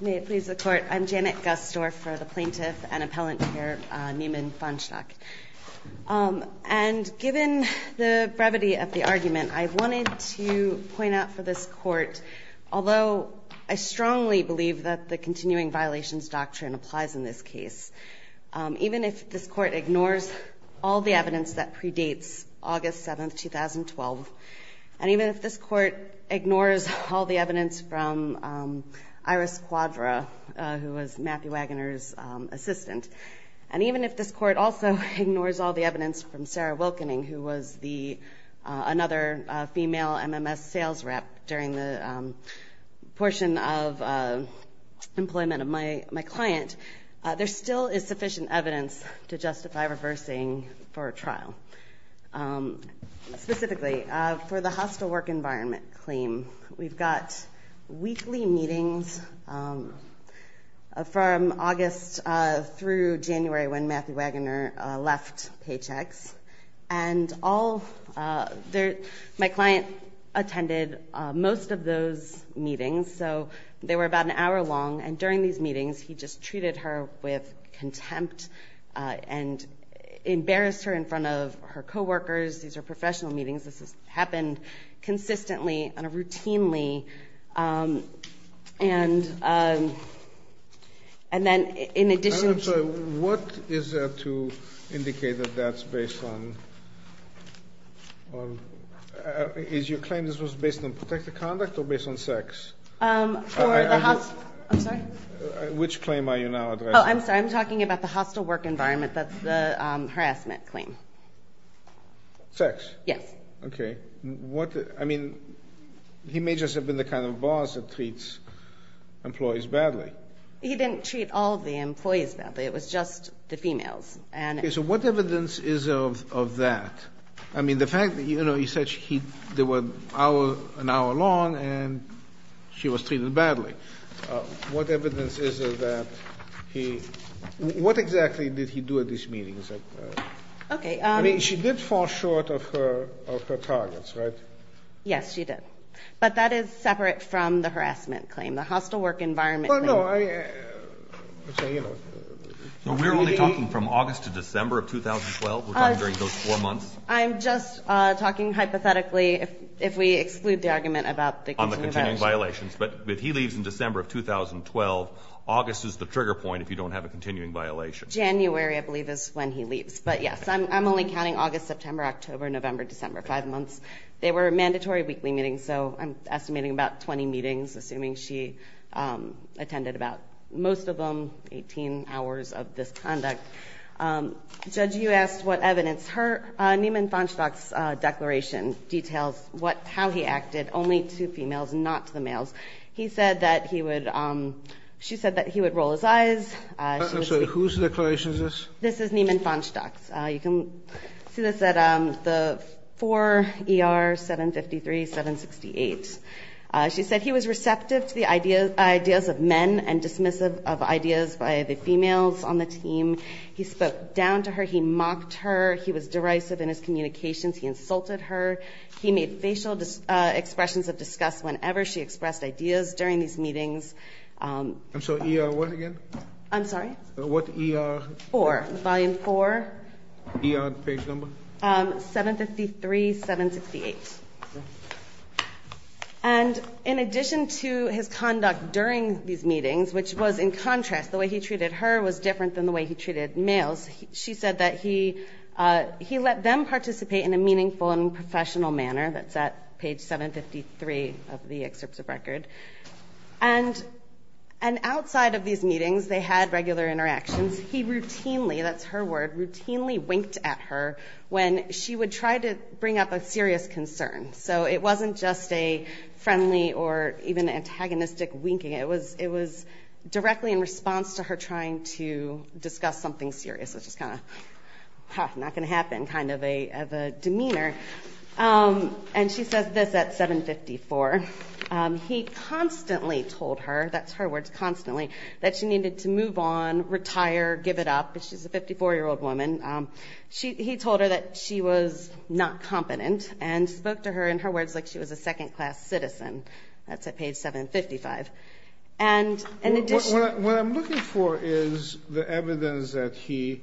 May it please the court, I'm Janet Gustorf for the plaintiff and appellant here, Neiman Fahnestock. And given the brevity of the argument, I wanted to point out for this court, although I strongly believe that the continuing violations doctrine applies in this case, even if this court ignores all the evidence that predates August 7, 2012, and even if this court ignores all the evidence from Iris Quadra, who was Matthew Waggoner's assistant, and even if this court also ignores all the evidence from Sarah Wilkening, who was another female MMS sales rep during the portion of employment of my client, there still is sufficient evidence to justify reversing for a trial. Specifically, for the hostile work environment claim, we've got weekly meetings from August through January when Matthew Waggoner left Paychex, and my client attended most of those meetings, so they were about an hour long, and during these meetings, he just treated her with contempt and embarrassed her in front of her co-workers, these are professional meetings, this has happened consistently and routinely, and then in addition to... I'm sorry, what is there to indicate that that's based on... Is your claim that this was based on protective conduct or based on sex? For the hostile... I'm sorry? Which claim are you now addressing? Oh, I'm sorry, I'm talking about the hostile work environment, that's the harassment claim. Sex? Yes. Okay. I mean, he may just have been the kind of boss that treats employees badly. He didn't treat all the employees badly, it was just the females, and... Okay, so what evidence is of that? I mean, the fact that he said they were an hour long, and she was treated badly. What evidence is of that? What exactly did he do at these meetings? I mean, she did fall short of her targets, right? Yes, she did. But that is separate from the harassment claim, the hostile work environment claim. Well, no, I... We're only talking from August to December of 2012, we're talking during those four months. I'm just talking hypothetically, if we exclude the argument about the continuing violations. But if he leaves in December of 2012, August is the trigger point if you don't have a continuing violation. January, I believe, is when he leaves. But yes, I'm only counting August, September, October, November, December, five months. They were mandatory weekly meetings, so I'm estimating about 20 meetings, assuming she attended about, most of them, 18 hours of this conduct. Judge, you asked what evidence. Her, Niemann-Vonschdach's declaration details how he acted only to females, not to the males. He said that he would, she said that he would roll his eyes. I'm sorry, whose declaration is this? This is Niemann-Vonschdach's. You can see this at the 4 ER 753-768. She said he was receptive to the ideas of men and dismissive of ideas by the females on the team. He spoke down to her. He mocked her. He was derisive in his communications. He insulted her. He made facial expressions of disgust whenever she expressed ideas during these meetings. I'm sorry, ER what again? I'm sorry? What ER? Four, volume four. ER page number? 753-768. And in addition to his conduct during these meetings, which was in contrast, the way he treated her was different than the way he treated males. She said that he let them participate in a meaningful and professional manner. That's at page 753 of the excerpts of record. And outside of these meetings, they had regular interactions. He routinely, that's her word, routinely winked at her when she would try to bring up a serious concern. So it wasn't just a friendly or even antagonistic winking. It was directly in response to her trying to discuss something serious, which is kind of not going to happen kind of a demeanor. And she says this at 754. He constantly told her, that's her words, constantly, that she needed to move on, retire, give it up. She's a 54-year-old woman. He told her that she was not competent and spoke to her in her words like she was a second-class citizen. That's at page 755. What I'm looking for is the evidence that he,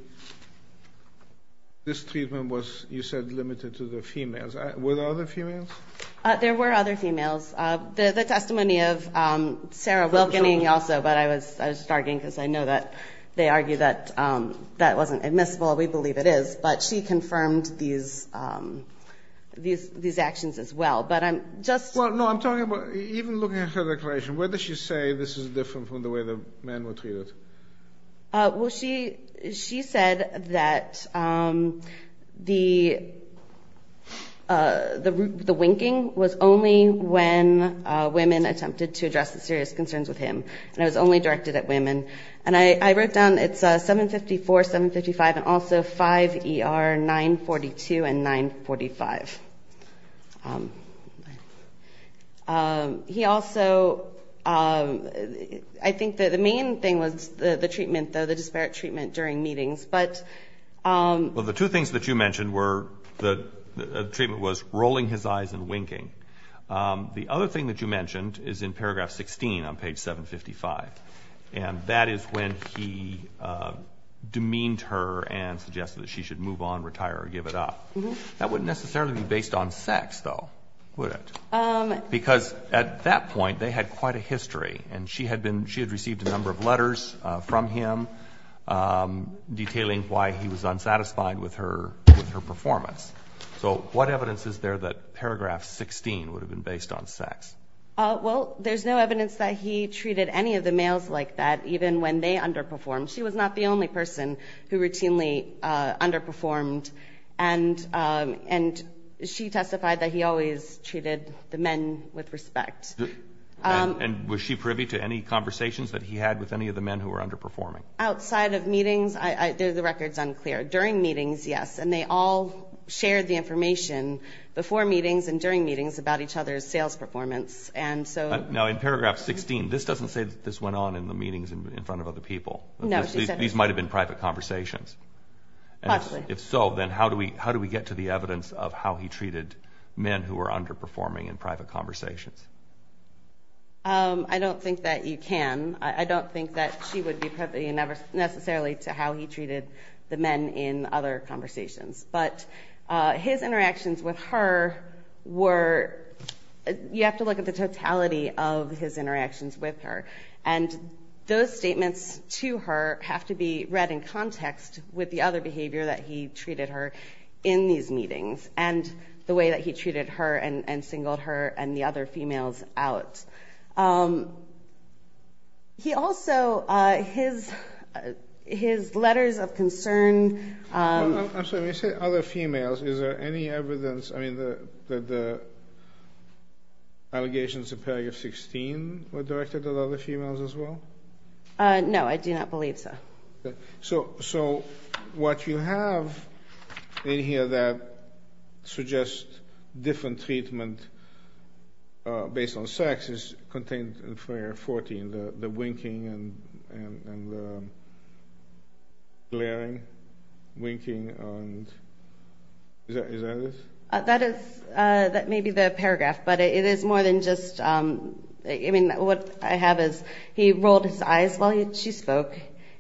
this treatment was, you said, limited to the females. Were there other females? There were other females. The testimony of Sarah Wilkening also, but I was just arguing because I know that they argue that that wasn't admissible. We believe it is. But she confirmed these actions as well. No, I'm talking about even looking at her declaration. Where does she say this is different from the way the men were treated? Well, she said that the winking was only when women attempted to address the serious concerns with him, And I wrote down it's 754, 755, and also 5ER 942 and 945. He also, I think that the main thing was the treatment, the disparate treatment during meetings. Well, the two things that you mentioned were the treatment was rolling his eyes and winking. The other thing that you mentioned is in paragraph 16 on page 755. And that is when he demeaned her and suggested that she should move on, retire, or give it up. That wouldn't necessarily be based on sex, though, would it? Because at that point, they had quite a history. And she had been, she had received a number of letters from him detailing why he was unsatisfied with her performance. So what evidence is there that paragraph 16 would have been based on sex? Well, there's no evidence that he treated any of the males like that, even when they underperformed. She was not the only person who routinely underperformed. And she testified that he always treated the men with respect. And was she privy to any conversations that he had with any of the men who were underperforming? Outside of meetings, the record's unclear. During meetings, yes. And they all shared the information before meetings and during meetings about each other's sales performance. Now, in paragraph 16, this doesn't say that this went on in the meetings in front of other people. No. These might have been private conversations. Possibly. If so, then how do we get to the evidence of how he treated men who were underperforming in private conversations? I don't think that you can. I don't think that she would be privy necessarily to how he treated the men in other conversations. But his interactions with her were, you have to look at the totality of his interactions with her. And those statements to her have to be read in context with the other behavior that he treated her in these meetings. And the way that he treated her and singled her and the other females out. He also, his letters of concern. I'm sorry, when you say other females, is there any evidence that the allegations in paragraph 16 were directed at other females as well? No, I do not believe so. So what you have in here that suggests different treatment based on sex is contained in paragraph 14. The winking and the glaring. Winking and, is that it? That is, that may be the paragraph. But it is more than just, I mean, what I have is he rolled his eyes while she spoke.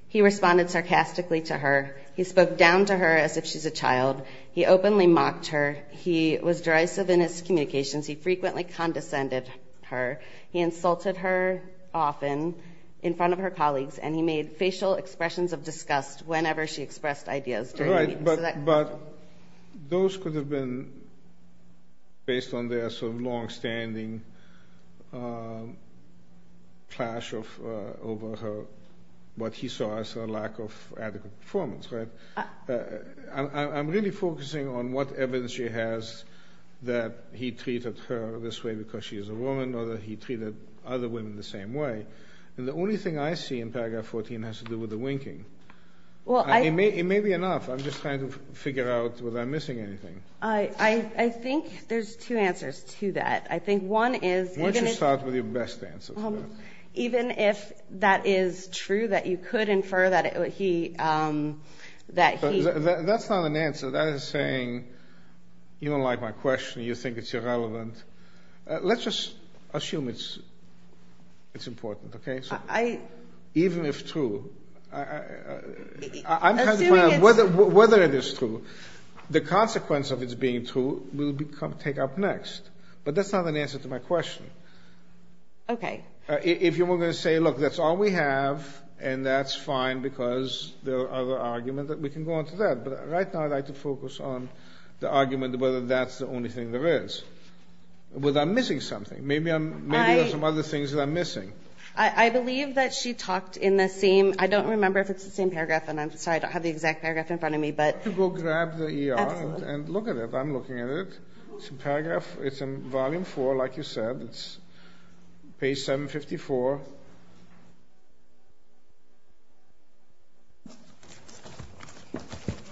He responded sarcastically to her. He spoke down to her as if she's a child. He openly mocked her. He was derisive in his communications. He frequently condescended her. He insulted her often in front of her colleagues. And he made facial expressions of disgust whenever she expressed ideas during meetings. But those could have been based on their sort of longstanding clash over what he saw as a lack of adequate performance, right? I'm really focusing on what evidence she has that he treated her this way because she is a woman or that he treated other women the same way. And the only thing I see in paragraph 14 has to do with the winking. It may be enough. I'm just trying to figure out whether I'm missing anything. I think there's two answers to that. I think one is- Why don't you start with your best answer? Even if that is true, that you could infer that he- That's not an answer. That is saying you don't like my question, you think it's irrelevant. Let's just assume it's important, okay? Even if true, I'm trying to find out whether it is true. The consequence of it being true will take up next. But that's not an answer to my question. Okay. If you were going to say, look, that's all we have and that's fine because there are other arguments, we can go on to that. But right now I'd like to focus on the argument whether that's the only thing there is. Whether I'm missing something. Maybe there are some other things that I'm missing. I believe that she talked in the same- I don't remember if it's the same paragraph, and I'm sorry I don't have the exact paragraph in front of me, but- You can go grab the ER and look at it. I'm looking at it. It's a paragraph. It's in volume four, like you said. It's page 754.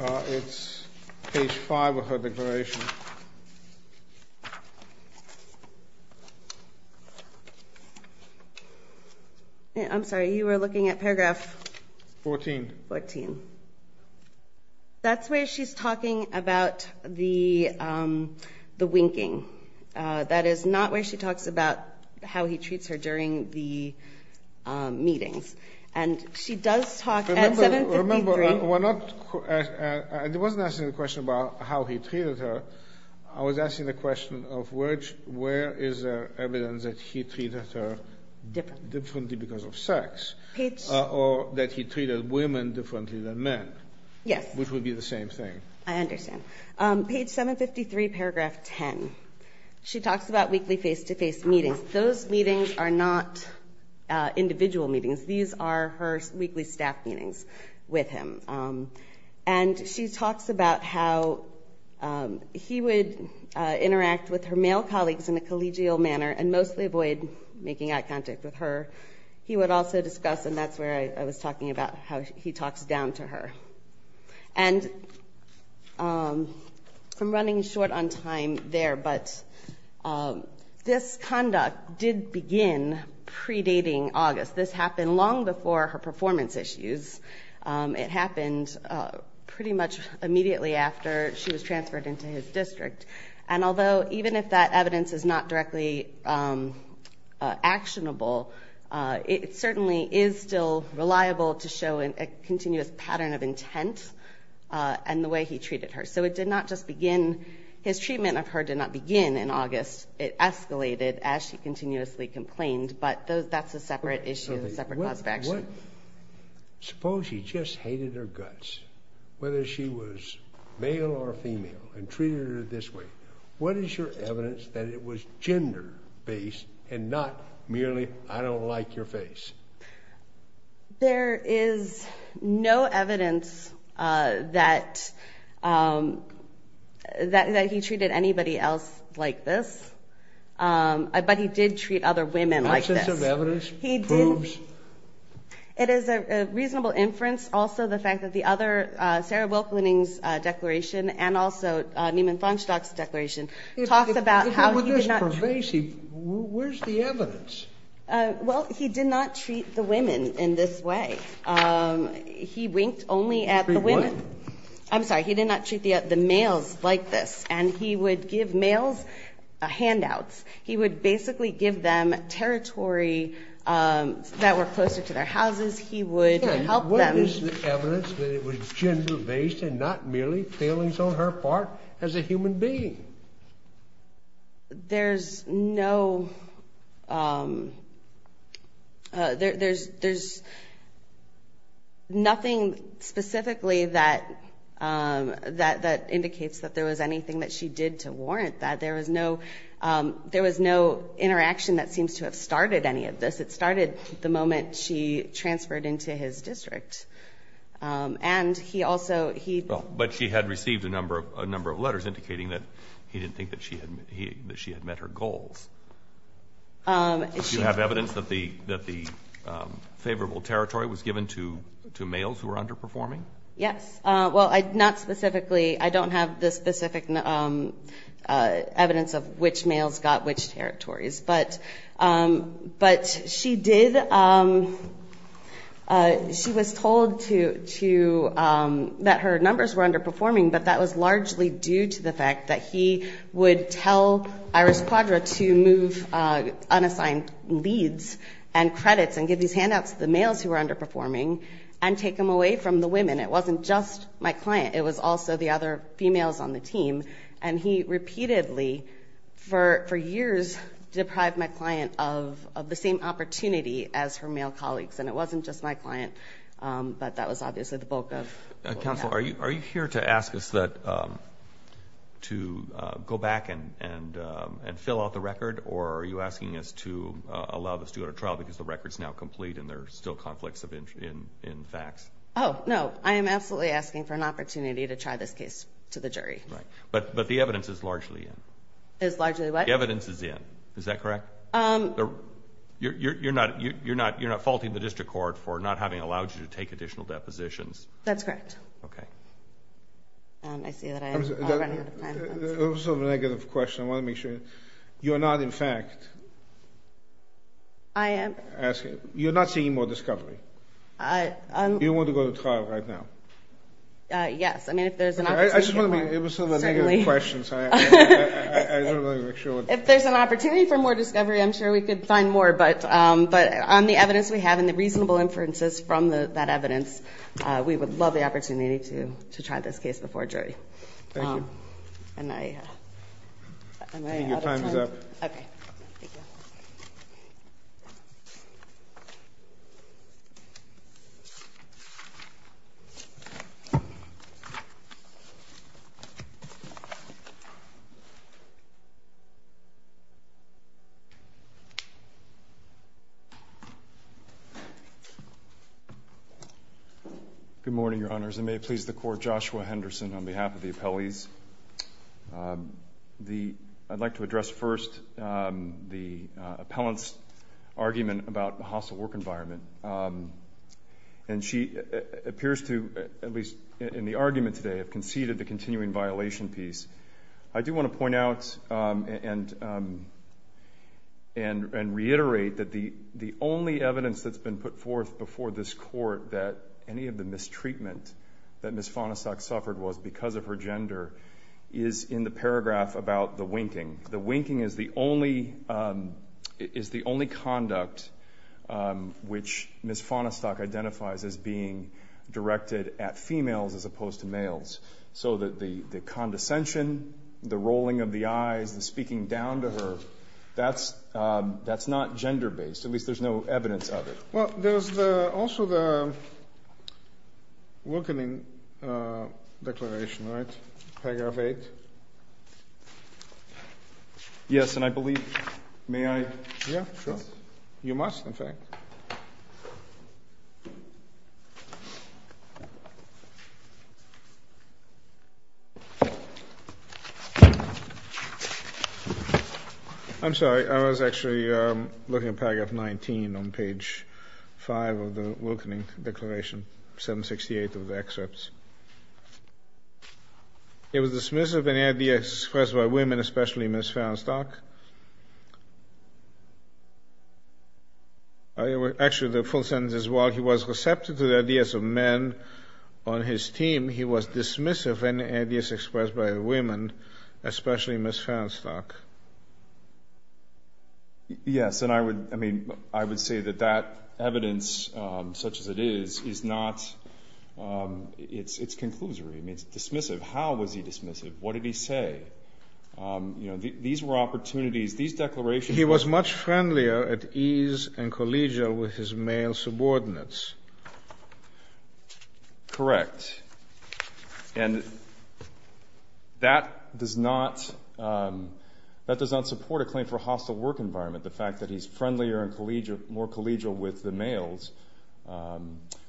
It's page five of her declaration. I'm sorry, you were looking at paragraph- Fourteen. Fourteen. That's where she's talking about the winking. That is not where she talks about how he treats her during the meetings. And she does talk at 753- Remember, we're not- I wasn't asking the question about how he treated her. I was asking the question of where is there evidence that he treated her differently because of sex. Or that he treated women differently than men. Yes. Which would be the same thing. I understand. Page 753, paragraph 10. She talks about weekly face-to-face meetings. Those meetings are not individual meetings. These are her weekly staff meetings with him. And she talks about how he would interact with her male colleagues in a collegial manner and mostly avoid making eye contact with her. He would also discuss- and that's where I was talking about how he talks down to her. And I'm running short on time there, but this conduct did begin predating August. This happened long before her performance issues. It happened pretty much immediately after she was transferred into his district. And although even if that evidence is not directly actionable, it certainly is still reliable to show a continuous pattern of intent and the way he treated her. So it did not just begin- his treatment of her did not begin in August. It escalated as she continuously complained. But that's a separate issue, a separate cause of action. Suppose she just hated her guts, whether she was male or female, and treated her this way. What is your evidence that it was gender-based and not merely, I don't like your face? There is no evidence that he treated anybody else like this. But he did treat other women like this. It is a reasonable inference. Also, the fact that the other- Sarah Wilk-Lenning's declaration and also Neiman Fonstock's declaration talks about how he did not- If it were this pervasive, where's the evidence? Well, he did not treat the women in this way. He winked only at the women. I'm sorry. He did not treat the males like this. And he would give males handouts. He would basically give them territory that were closer to their houses. He would help them- What is the evidence that it was gender-based and not merely feelings on her part as a human being? There's no- there's nothing specifically that indicates that there was anything that she did to warrant that. There was no interaction that seems to have started any of this. It started the moment she transferred into his district. And he also- But she had received a number of letters indicating that he didn't think that she had met her goals. Do you have evidence that the favorable territory was given to males who were underperforming? Yes. Well, not specifically. I don't have the specific evidence of which males got which territories. But she did- She was told that her numbers were underperforming. But that was largely due to the fact that he would tell Iris Quadra to move unassigned leads and credits and give these handouts to the males who were underperforming and take them away from the women. It wasn't just my client. It was also the other females on the team. And he repeatedly, for years, deprived my client of the same opportunity as her male colleagues. And it wasn't just my client. But that was obviously the bulk of- Counsel, are you here to ask us to go back and fill out the record? Or are you asking us to allow this to go to trial because the record is now complete and there are still conflicts in facts? Oh, no. I am absolutely asking for an opportunity to try this case to the jury. Right. But the evidence is largely in. Is largely what? The evidence is in. Is that correct? You're not faulting the district court for not having allowed you to take additional depositions? That's correct. Okay. I see that I am running out of time. I have a sort of negative question. I want to make sure. You're not, in fact- I am- You're not seeing more discovery. Do you want to go to trial right now? Yes. I mean, if there's an opportunity- I just want to be able to answer the negative questions. I just want to make sure. If there's an opportunity for more discovery, I'm sure we could find more. But on the evidence we have and the reasonable inferences from that evidence, we would love the opportunity to try this case before jury. Thank you. And I- I think your time is up. Okay. Thank you. Thank you. Good morning, Your Honors. I may please the Court. Joshua Henderson on behalf of the appellees. I'd like to address first the appellant's argument about the hostile work environment. And she appears to, at least in the argument today, have conceded the continuing violation piece. I do want to point out and reiterate that the only evidence that's been put forth before this Court that any of the mistreatment that Ms. Fonestock suffered was because of her gender is in the paragraph about the winking. The winking is the only conduct which Ms. Fonestock identifies as being directed at females as opposed to males. So the condescension, the rolling of the eyes, the speaking down to her, that's not gender-based. At least there's no evidence of it. Well, there's also the winking declaration, right? Paragraph 8. Yes, and I believe- may I- Yeah, sure. You must, in fact. I'm sorry, I was actually looking at paragraph 19 on page 5 of the winking declaration, 768 of the excerpts. It was dismissive of any ideas expressed by women, especially Ms. Fonestock. Actually, the full sentence is, while he was receptive to the ideas of men on his team, he was dismissive of any ideas expressed by women, especially Ms. Fonestock. Yes, and I would say that that evidence, such as it is, is not- it's conclusory. It's dismissive. How was he dismissive? What did he say? These were opportunities, these declarations- He was much friendlier at ease and collegial with his male subordinates. Correct. And that does not support a claim for a hostile work environment. The fact that he's friendlier and more collegial with the males,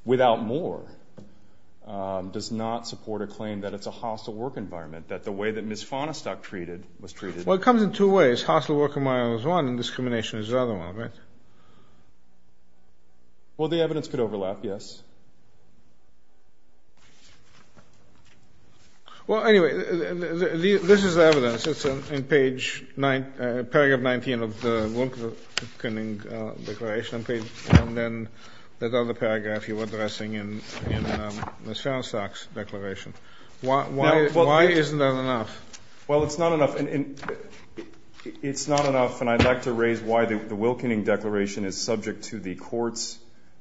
without more, does not support a claim that it's a hostile work environment, that the way that Ms. Fonestock was treated- Well, it comes in two ways. Hostile work environment is one, and discrimination is the other one, right? Well, the evidence could overlap, yes. Well, anyway, this is evidence. It's in page- paragraph 19 of the Wilkening Declaration, and then that other paragraph you were addressing in Ms. Fonestock's declaration. Why isn't that enough? Well, it's not enough, and I'd like to raise why the Wilkening Declaration is subject to the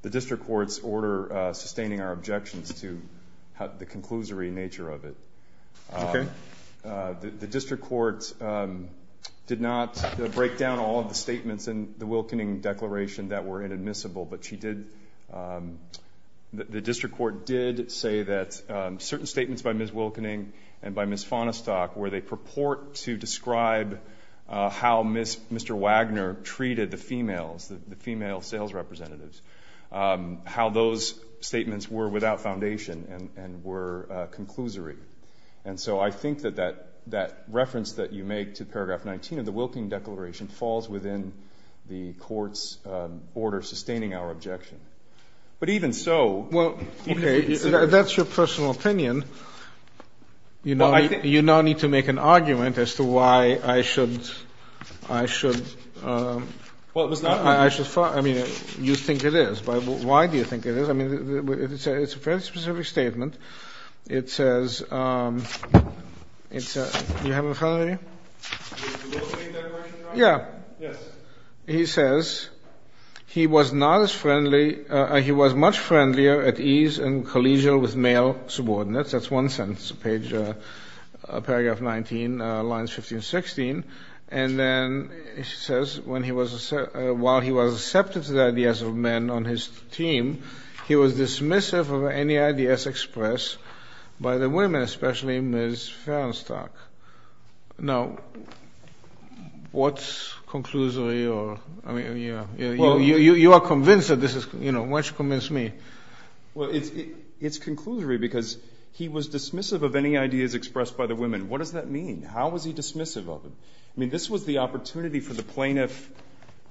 District Court's order sustaining our objections to the conclusory nature of it. Okay. The District Court did not break down all of the statements in the Wilkening Declaration that were inadmissible, but she did- The District Court did say that certain statements by Ms. Wilkening and by Ms. Fonestock where they purport to describe how Mr. Wagner treated the females, the female sales representatives, how those statements were without foundation and were conclusory. And so I think that that reference that you make to paragraph 19 of the Wilkening Declaration falls within the Court's order sustaining our objection. But even so- Well, okay, that's your personal opinion. You now need to make an argument as to why I should- Well, it was not- I mean, you think it is, but why do you think it is? I mean, it's a fairly specific statement. It says- do you have it in front of you? The Wilkening Declaration? Yeah. Yes. He says, he was not as friendly- he was much friendlier at ease and collegial with male subordinates. That's one sentence, page- paragraph 19, lines 15 and 16. And then it says, while he was receptive to the ideas of men on his team, he was dismissive of any ideas expressed by the women, especially Ms. Fonestock. Now, what's conclusory? You are convinced that this is- why don't you convince me? Well, it's conclusory because he was dismissive of any ideas expressed by the women. What does that mean? How was he dismissive of them? I mean, this was the opportunity for the plaintiff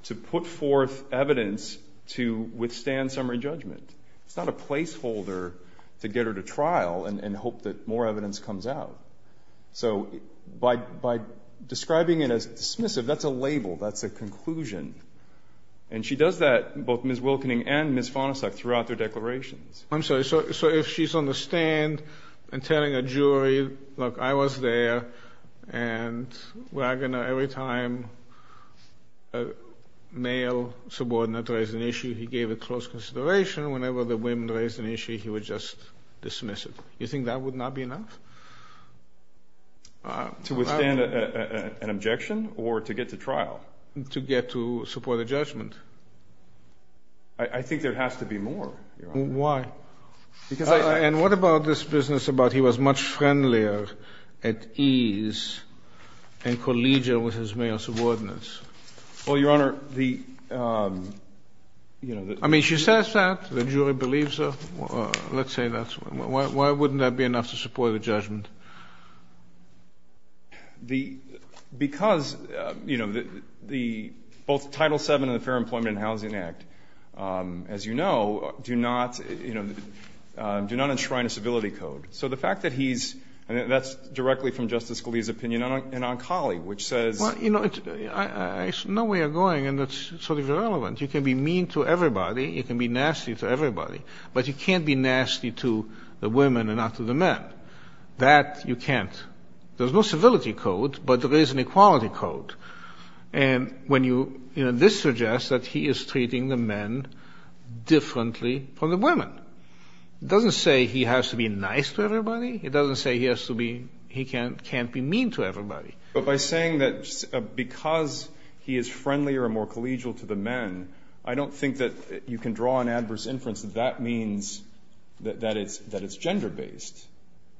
to put forth evidence to withstand summary judgment. It's not a placeholder to get her to trial and hope that more evidence comes out. So by describing it as dismissive, that's a label. That's a conclusion. And she does that, both Ms. Wilkening and Ms. Fonestock, throughout their declarations. I'm sorry. So if she's on the stand and telling a jury, look, I was there, and every time a male subordinate raised an issue, he gave it close consideration. Whenever the women raised an issue, he would just dismiss it. You think that would not be enough? To withstand an objection or to get to trial? To get to support a judgment. I think there has to be more, Your Honor. Why? And what about this business about he was much friendlier at ease in collegial with his male subordinates? Well, Your Honor, the ‑‑ I mean, she says that. The jury believes her. Let's say that. Why wouldn't that be enough to support a judgment? Because, you know, both Title VII and the Fair Employment and Housing Act, as you know, do not, you know, do not enshrine a civility code. So the fact that he's ‑‑ and that's directly from Justice Scalia's opinion and on Colley, which says ‑‑ Well, you know, there's no way of going, and that's sort of irrelevant. You can be mean to everybody. You can be nasty to everybody. But you can't be nasty to the women and not to the men. That you can't. There's no civility code, but there is an equality code. And when you ‑‑ you know, this suggests that he is treating the men differently from the women. It doesn't say he has to be nice to everybody. It doesn't say he has to be ‑‑ he can't be mean to everybody. But by saying that because he is friendlier and more collegial to the men, I don't think that you can draw an adverse inference that that means that it's gender based.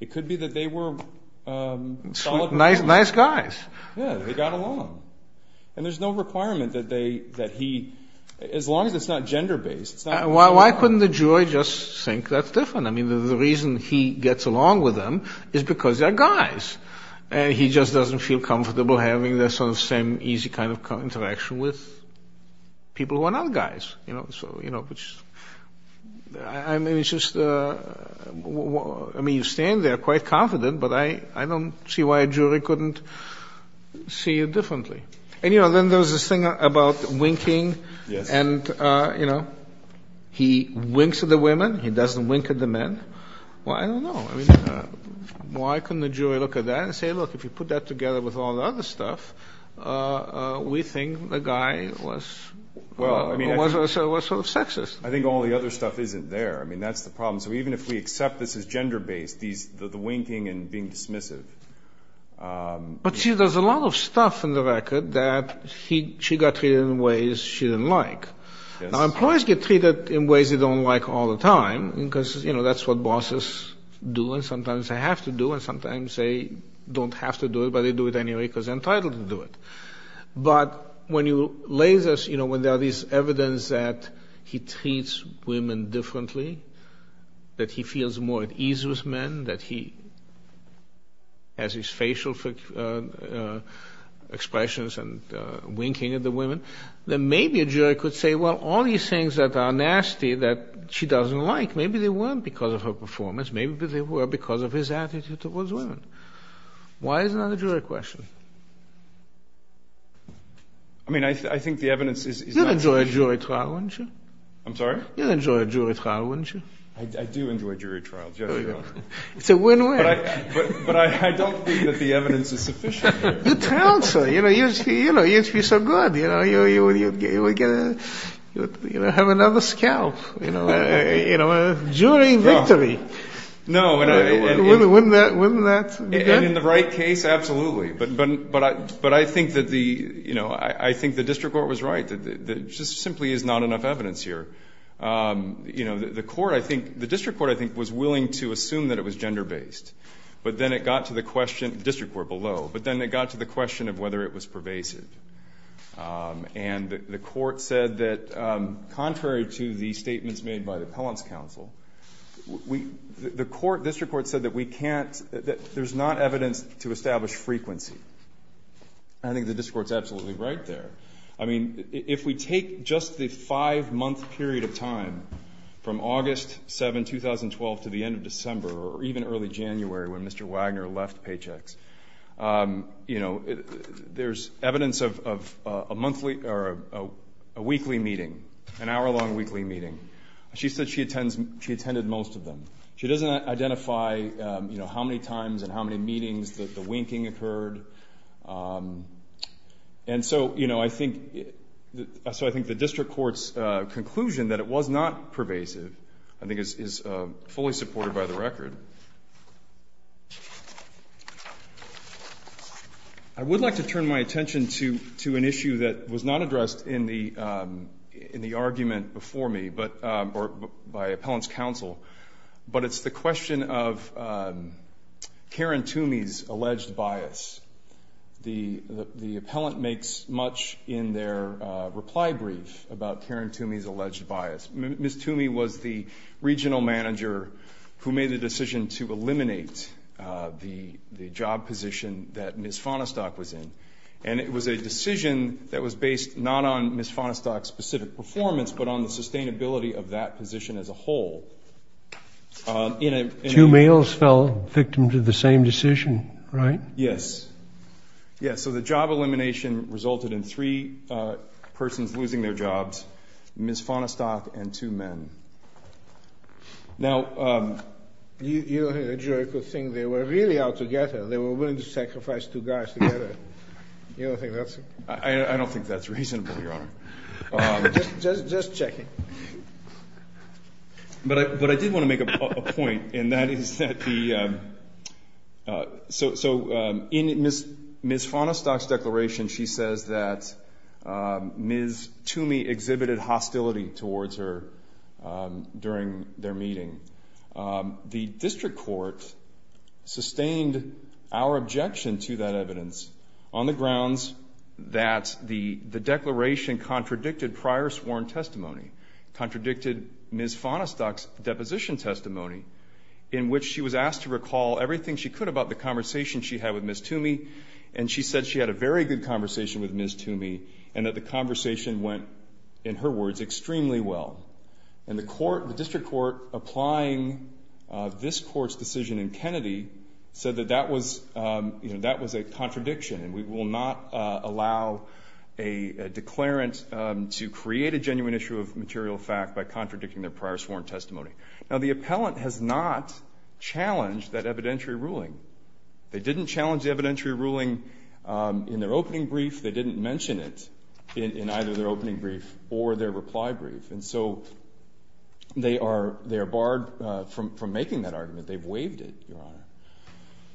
It could be that they were solid people. Nice guys. Yeah, they got along. And there's no requirement that they ‑‑ that he ‑‑ as long as it's not gender based. Why couldn't the jury just think that's different? I mean, the reason he gets along with them is because they're guys. And he just doesn't feel comfortable having the same easy kind of interaction with people who are not guys. I mean, it's just ‑‑ I mean, you stand there quite confident, but I don't see why a jury couldn't see it differently. And, you know, then there's this thing about winking. Yes. And, you know, he winks at the women. He doesn't wink at the men. Well, I don't know. I mean, why couldn't the jury look at that and say, look, if you put that together with all the other stuff, we think the guy was ‑‑ Was sort of sexist. I think all the other stuff isn't there. I mean, that's the problem. So even if we accept this as gender based, the winking and being dismissive. But, see, there's a lot of stuff in the record that she got treated in ways she didn't like. Now, employees get treated in ways they don't like all the time because, you know, that's what bosses do. And sometimes they have to do it. And sometimes they don't have to do it, but they do it anyway because they're entitled to do it. But when you lay this, you know, when there are these evidence that he treats women differently, that he feels more at ease with men, that he has his facial expressions and winking at the women, then maybe a jury could say, well, all these things that are nasty that she doesn't like, maybe they weren't because of her performance. Maybe they were because of his attitude towards women. Why is it not a jury question? I mean, I think the evidence is not sufficient. You'd enjoy a jury trial, wouldn't you? I'm sorry? You'd enjoy a jury trial, wouldn't you? I do enjoy jury trials, yes, Your Honor. It's a win-win. But I don't think that the evidence is sufficient. You'd be so good. You'd have another scalp. You know, jury victory. Wouldn't that be good? In the right case, absolutely. But I think that the district court was right. There just simply is not enough evidence here. You know, the court, I think, the district court, I think, was willing to assume that it was gender-based. But then it got to the question, the district court below, but then it got to the question of whether it was pervasive. And the court said that, contrary to the statements made by the appellant's counsel, the court, district court, said that we can't, that there's not evidence to establish frequency. I think the district court's absolutely right there. I mean, if we take just the five-month period of time from August 7, 2012, to the end of December, or even early January when Mr. Wagner left Paychex, you know, there's evidence of a weekly meeting, an hour-long weekly meeting. She said she attended most of them. She doesn't identify, you know, how many times and how many meetings the winking occurred. And so, you know, I think, so I think the district court's conclusion that it was not pervasive, I think, is fully supported by the record. I would like to turn my attention to an issue that was not addressed in the argument before me, or by appellant's counsel, but it's the question of Karen Toomey's alleged bias. The appellant makes much in their reply brief about Karen Toomey's alleged bias. Ms. Toomey was the regional manager who made the decision to eliminate the job position that Ms. Fonestock was in, and it was a decision that was based not on Ms. Fonestock's specific performance, but on the sustainability of that position as a whole. Two males fell victim to the same decision, right? Yes. Yeah, so the job elimination resulted in three persons losing their jobs, Ms. Fonestock and two men. Now- You don't think the jury could think they were really all together, they were willing to sacrifice two guys together? You don't think that's- I don't think that's reasonable, Your Honor. Just checking. But I did want to make a point, and that is that the- So in Ms. Fonestock's declaration, she says that Ms. Toomey exhibited hostility towards her during their meeting. The district court sustained our objection to that evidence on the grounds that the declaration contradicted prior sworn testimony, contradicted Ms. Fonestock's deposition testimony, in which she was asked to recall everything she could about the conversation she had with Ms. Toomey, and she said she had a very good conversation with Ms. Toomey and that the conversation went, in her words, extremely well. And the district court, applying this court's decision in Kennedy, said that that was a contradiction, and we will not allow a declarant to create a genuine issue of material fact by contradicting their prior sworn testimony. Now, the appellant has not challenged that evidentiary ruling. They didn't challenge the evidentiary ruling in their opening brief. They didn't mention it in either their opening brief or their reply brief. And so they are barred from making that argument. They've waived it, Your Honor.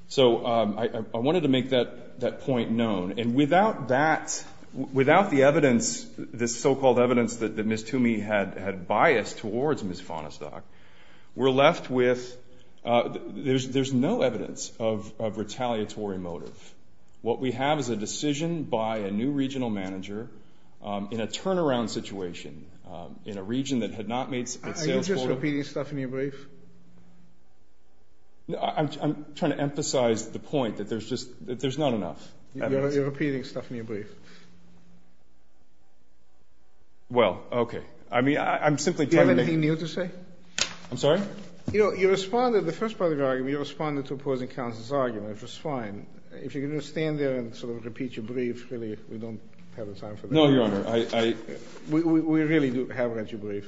So I wanted to make that point known. And without that, without the evidence, this so-called evidence that Ms. Toomey had biased towards Ms. Fonestock, we're left with-there's no evidence of retaliatory motive. What we have is a decision by a new regional manager in a turnaround situation, in a region that had not made sales- Are you just repeating stuff in your brief? I'm trying to emphasize the point that there's just not enough evidence. You're repeating stuff in your brief. Well, okay. I mean, I'm simply trying to- Do you have anything new to say? I'm sorry? You know, you responded, the first part of your argument, you responded to opposing counsel's argument, which was fine. If you're going to stand there and sort of repeat your brief, really, we don't have the time for that. No, Your Honor. We really have read your brief.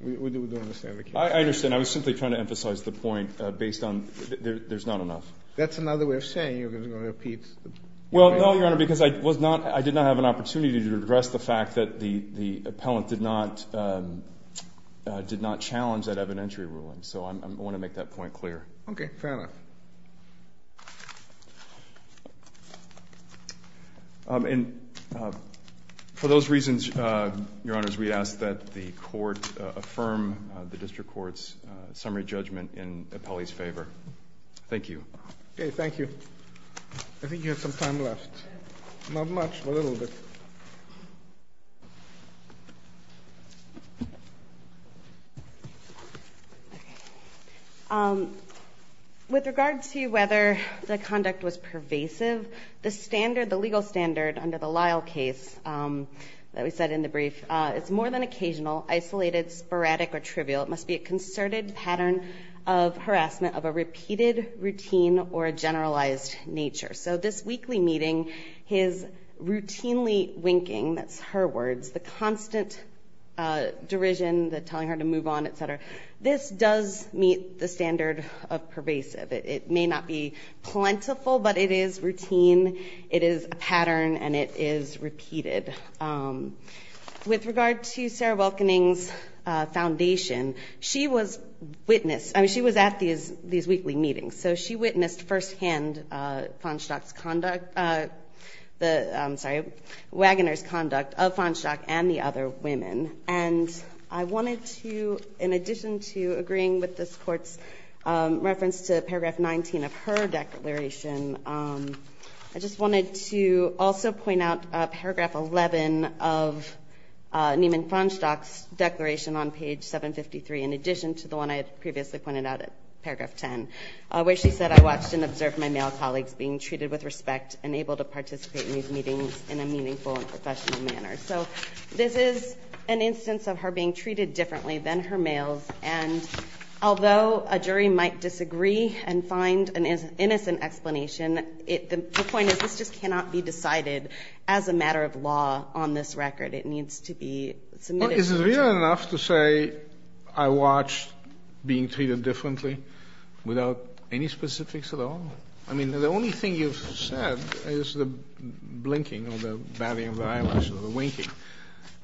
We do understand the case. I understand. I was simply trying to emphasize the point based on there's not enough. That's another way of saying you're going to repeat- Well, no, Your Honor, because I did not have an opportunity to address the fact that the appellant did not challenge that evidentiary ruling. So I want to make that point clear. Okay. Fair enough. And for those reasons, Your Honors, we ask that the court affirm the district court's summary judgment in the appellee's favor. Thank you. Okay. Thank you. I think you have some time left. Not much, but a little bit. Okay. With regard to whether the conduct was pervasive, the standard, the legal standard under the Lyle case that we said in the brief, it's more than occasional, isolated, sporadic, or trivial. It must be a concerted pattern of harassment of a repeated routine or a generalized nature. So this weekly meeting, his routinely winking, that's her words, the constant derision, the telling her to move on, et cetera, this does meet the standard of pervasive. It may not be plentiful, but it is routine. It is a pattern, and it is repeated. With regard to Sarah Welkening's foundation, she was witness. I mean, she was at these weekly meetings. So she witnessed firsthand Wagoner's conduct of Farnstock and the other women. And I wanted to, in addition to agreeing with this court's reference to paragraph 19 of her declaration, I just wanted to also point out paragraph 11 of Neiman Farnstock's declaration on page 753, in addition to the one I had previously pointed out at paragraph 10, where she said, I watched and observed my male colleagues being treated with respect and able to participate in these meetings in a meaningful and professional manner. So this is an instance of her being treated differently than her males, and although a jury might disagree and find an innocent explanation, the point is this just cannot be decided as a matter of law on this record. It needs to be submitted to the jury. Is it fair enough to say I watched being treated differently without any specifics at all? I mean, the only thing you've said is the blinking or the batting of the eyelashes or the winking.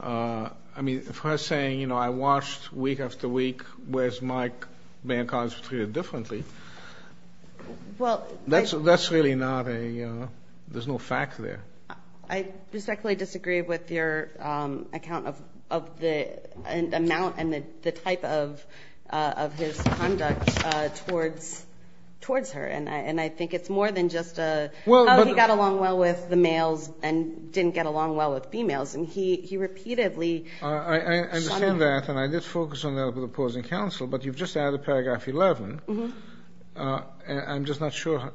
I mean, if I was saying, you know, I watched week after week, whereas my male colleagues were treated differently, that's really not a ‑‑ there's no fact there. I respectfully disagree with your account of the amount and the type of his conduct towards her, and I think it's more than just a, oh, he got along well with the males and didn't get along well with females, and he repeatedly ‑‑ I understand that, and I did focus on that with opposing counsel, but you've just added paragraph 11. I'm just not sure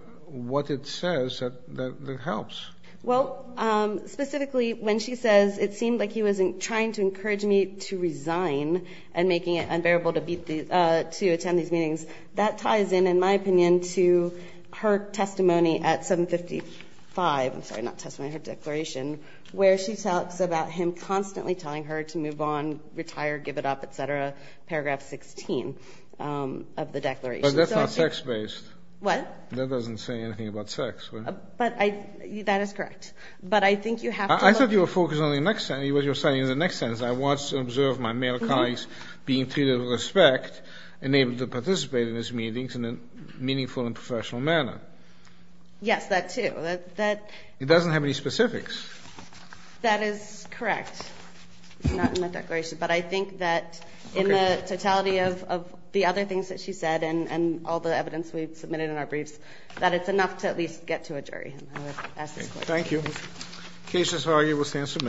what it says that helps. Well, specifically, when she says it seemed like he was trying to encourage me to resign and making it unbearable to attend these meetings, that ties in, in my opinion, to her testimony at 755 ‑‑ I'm sorry, not testimony, her declaration, where she talks about him constantly telling her to move on, retire, give it up, et cetera, paragraph 16 of the declaration. But that's not sex-based. What? That doesn't say anything about sex. But I ‑‑ that is correct. But I think you have to look ‑‑ I thought you were focused on the next sentence. What you're saying is the next sentence, I watched and observed my male colleagues being treated with respect and able to participate in these meetings in a meaningful and professional manner. Yes, that too. It doesn't have any specifics. That is correct. It's not in my declaration, but I think that in the totality of the other things that she said and all the evidence we've submitted in our briefs, that it's enough to at least get to a jury. Thank you. The case as argued will stand submitted.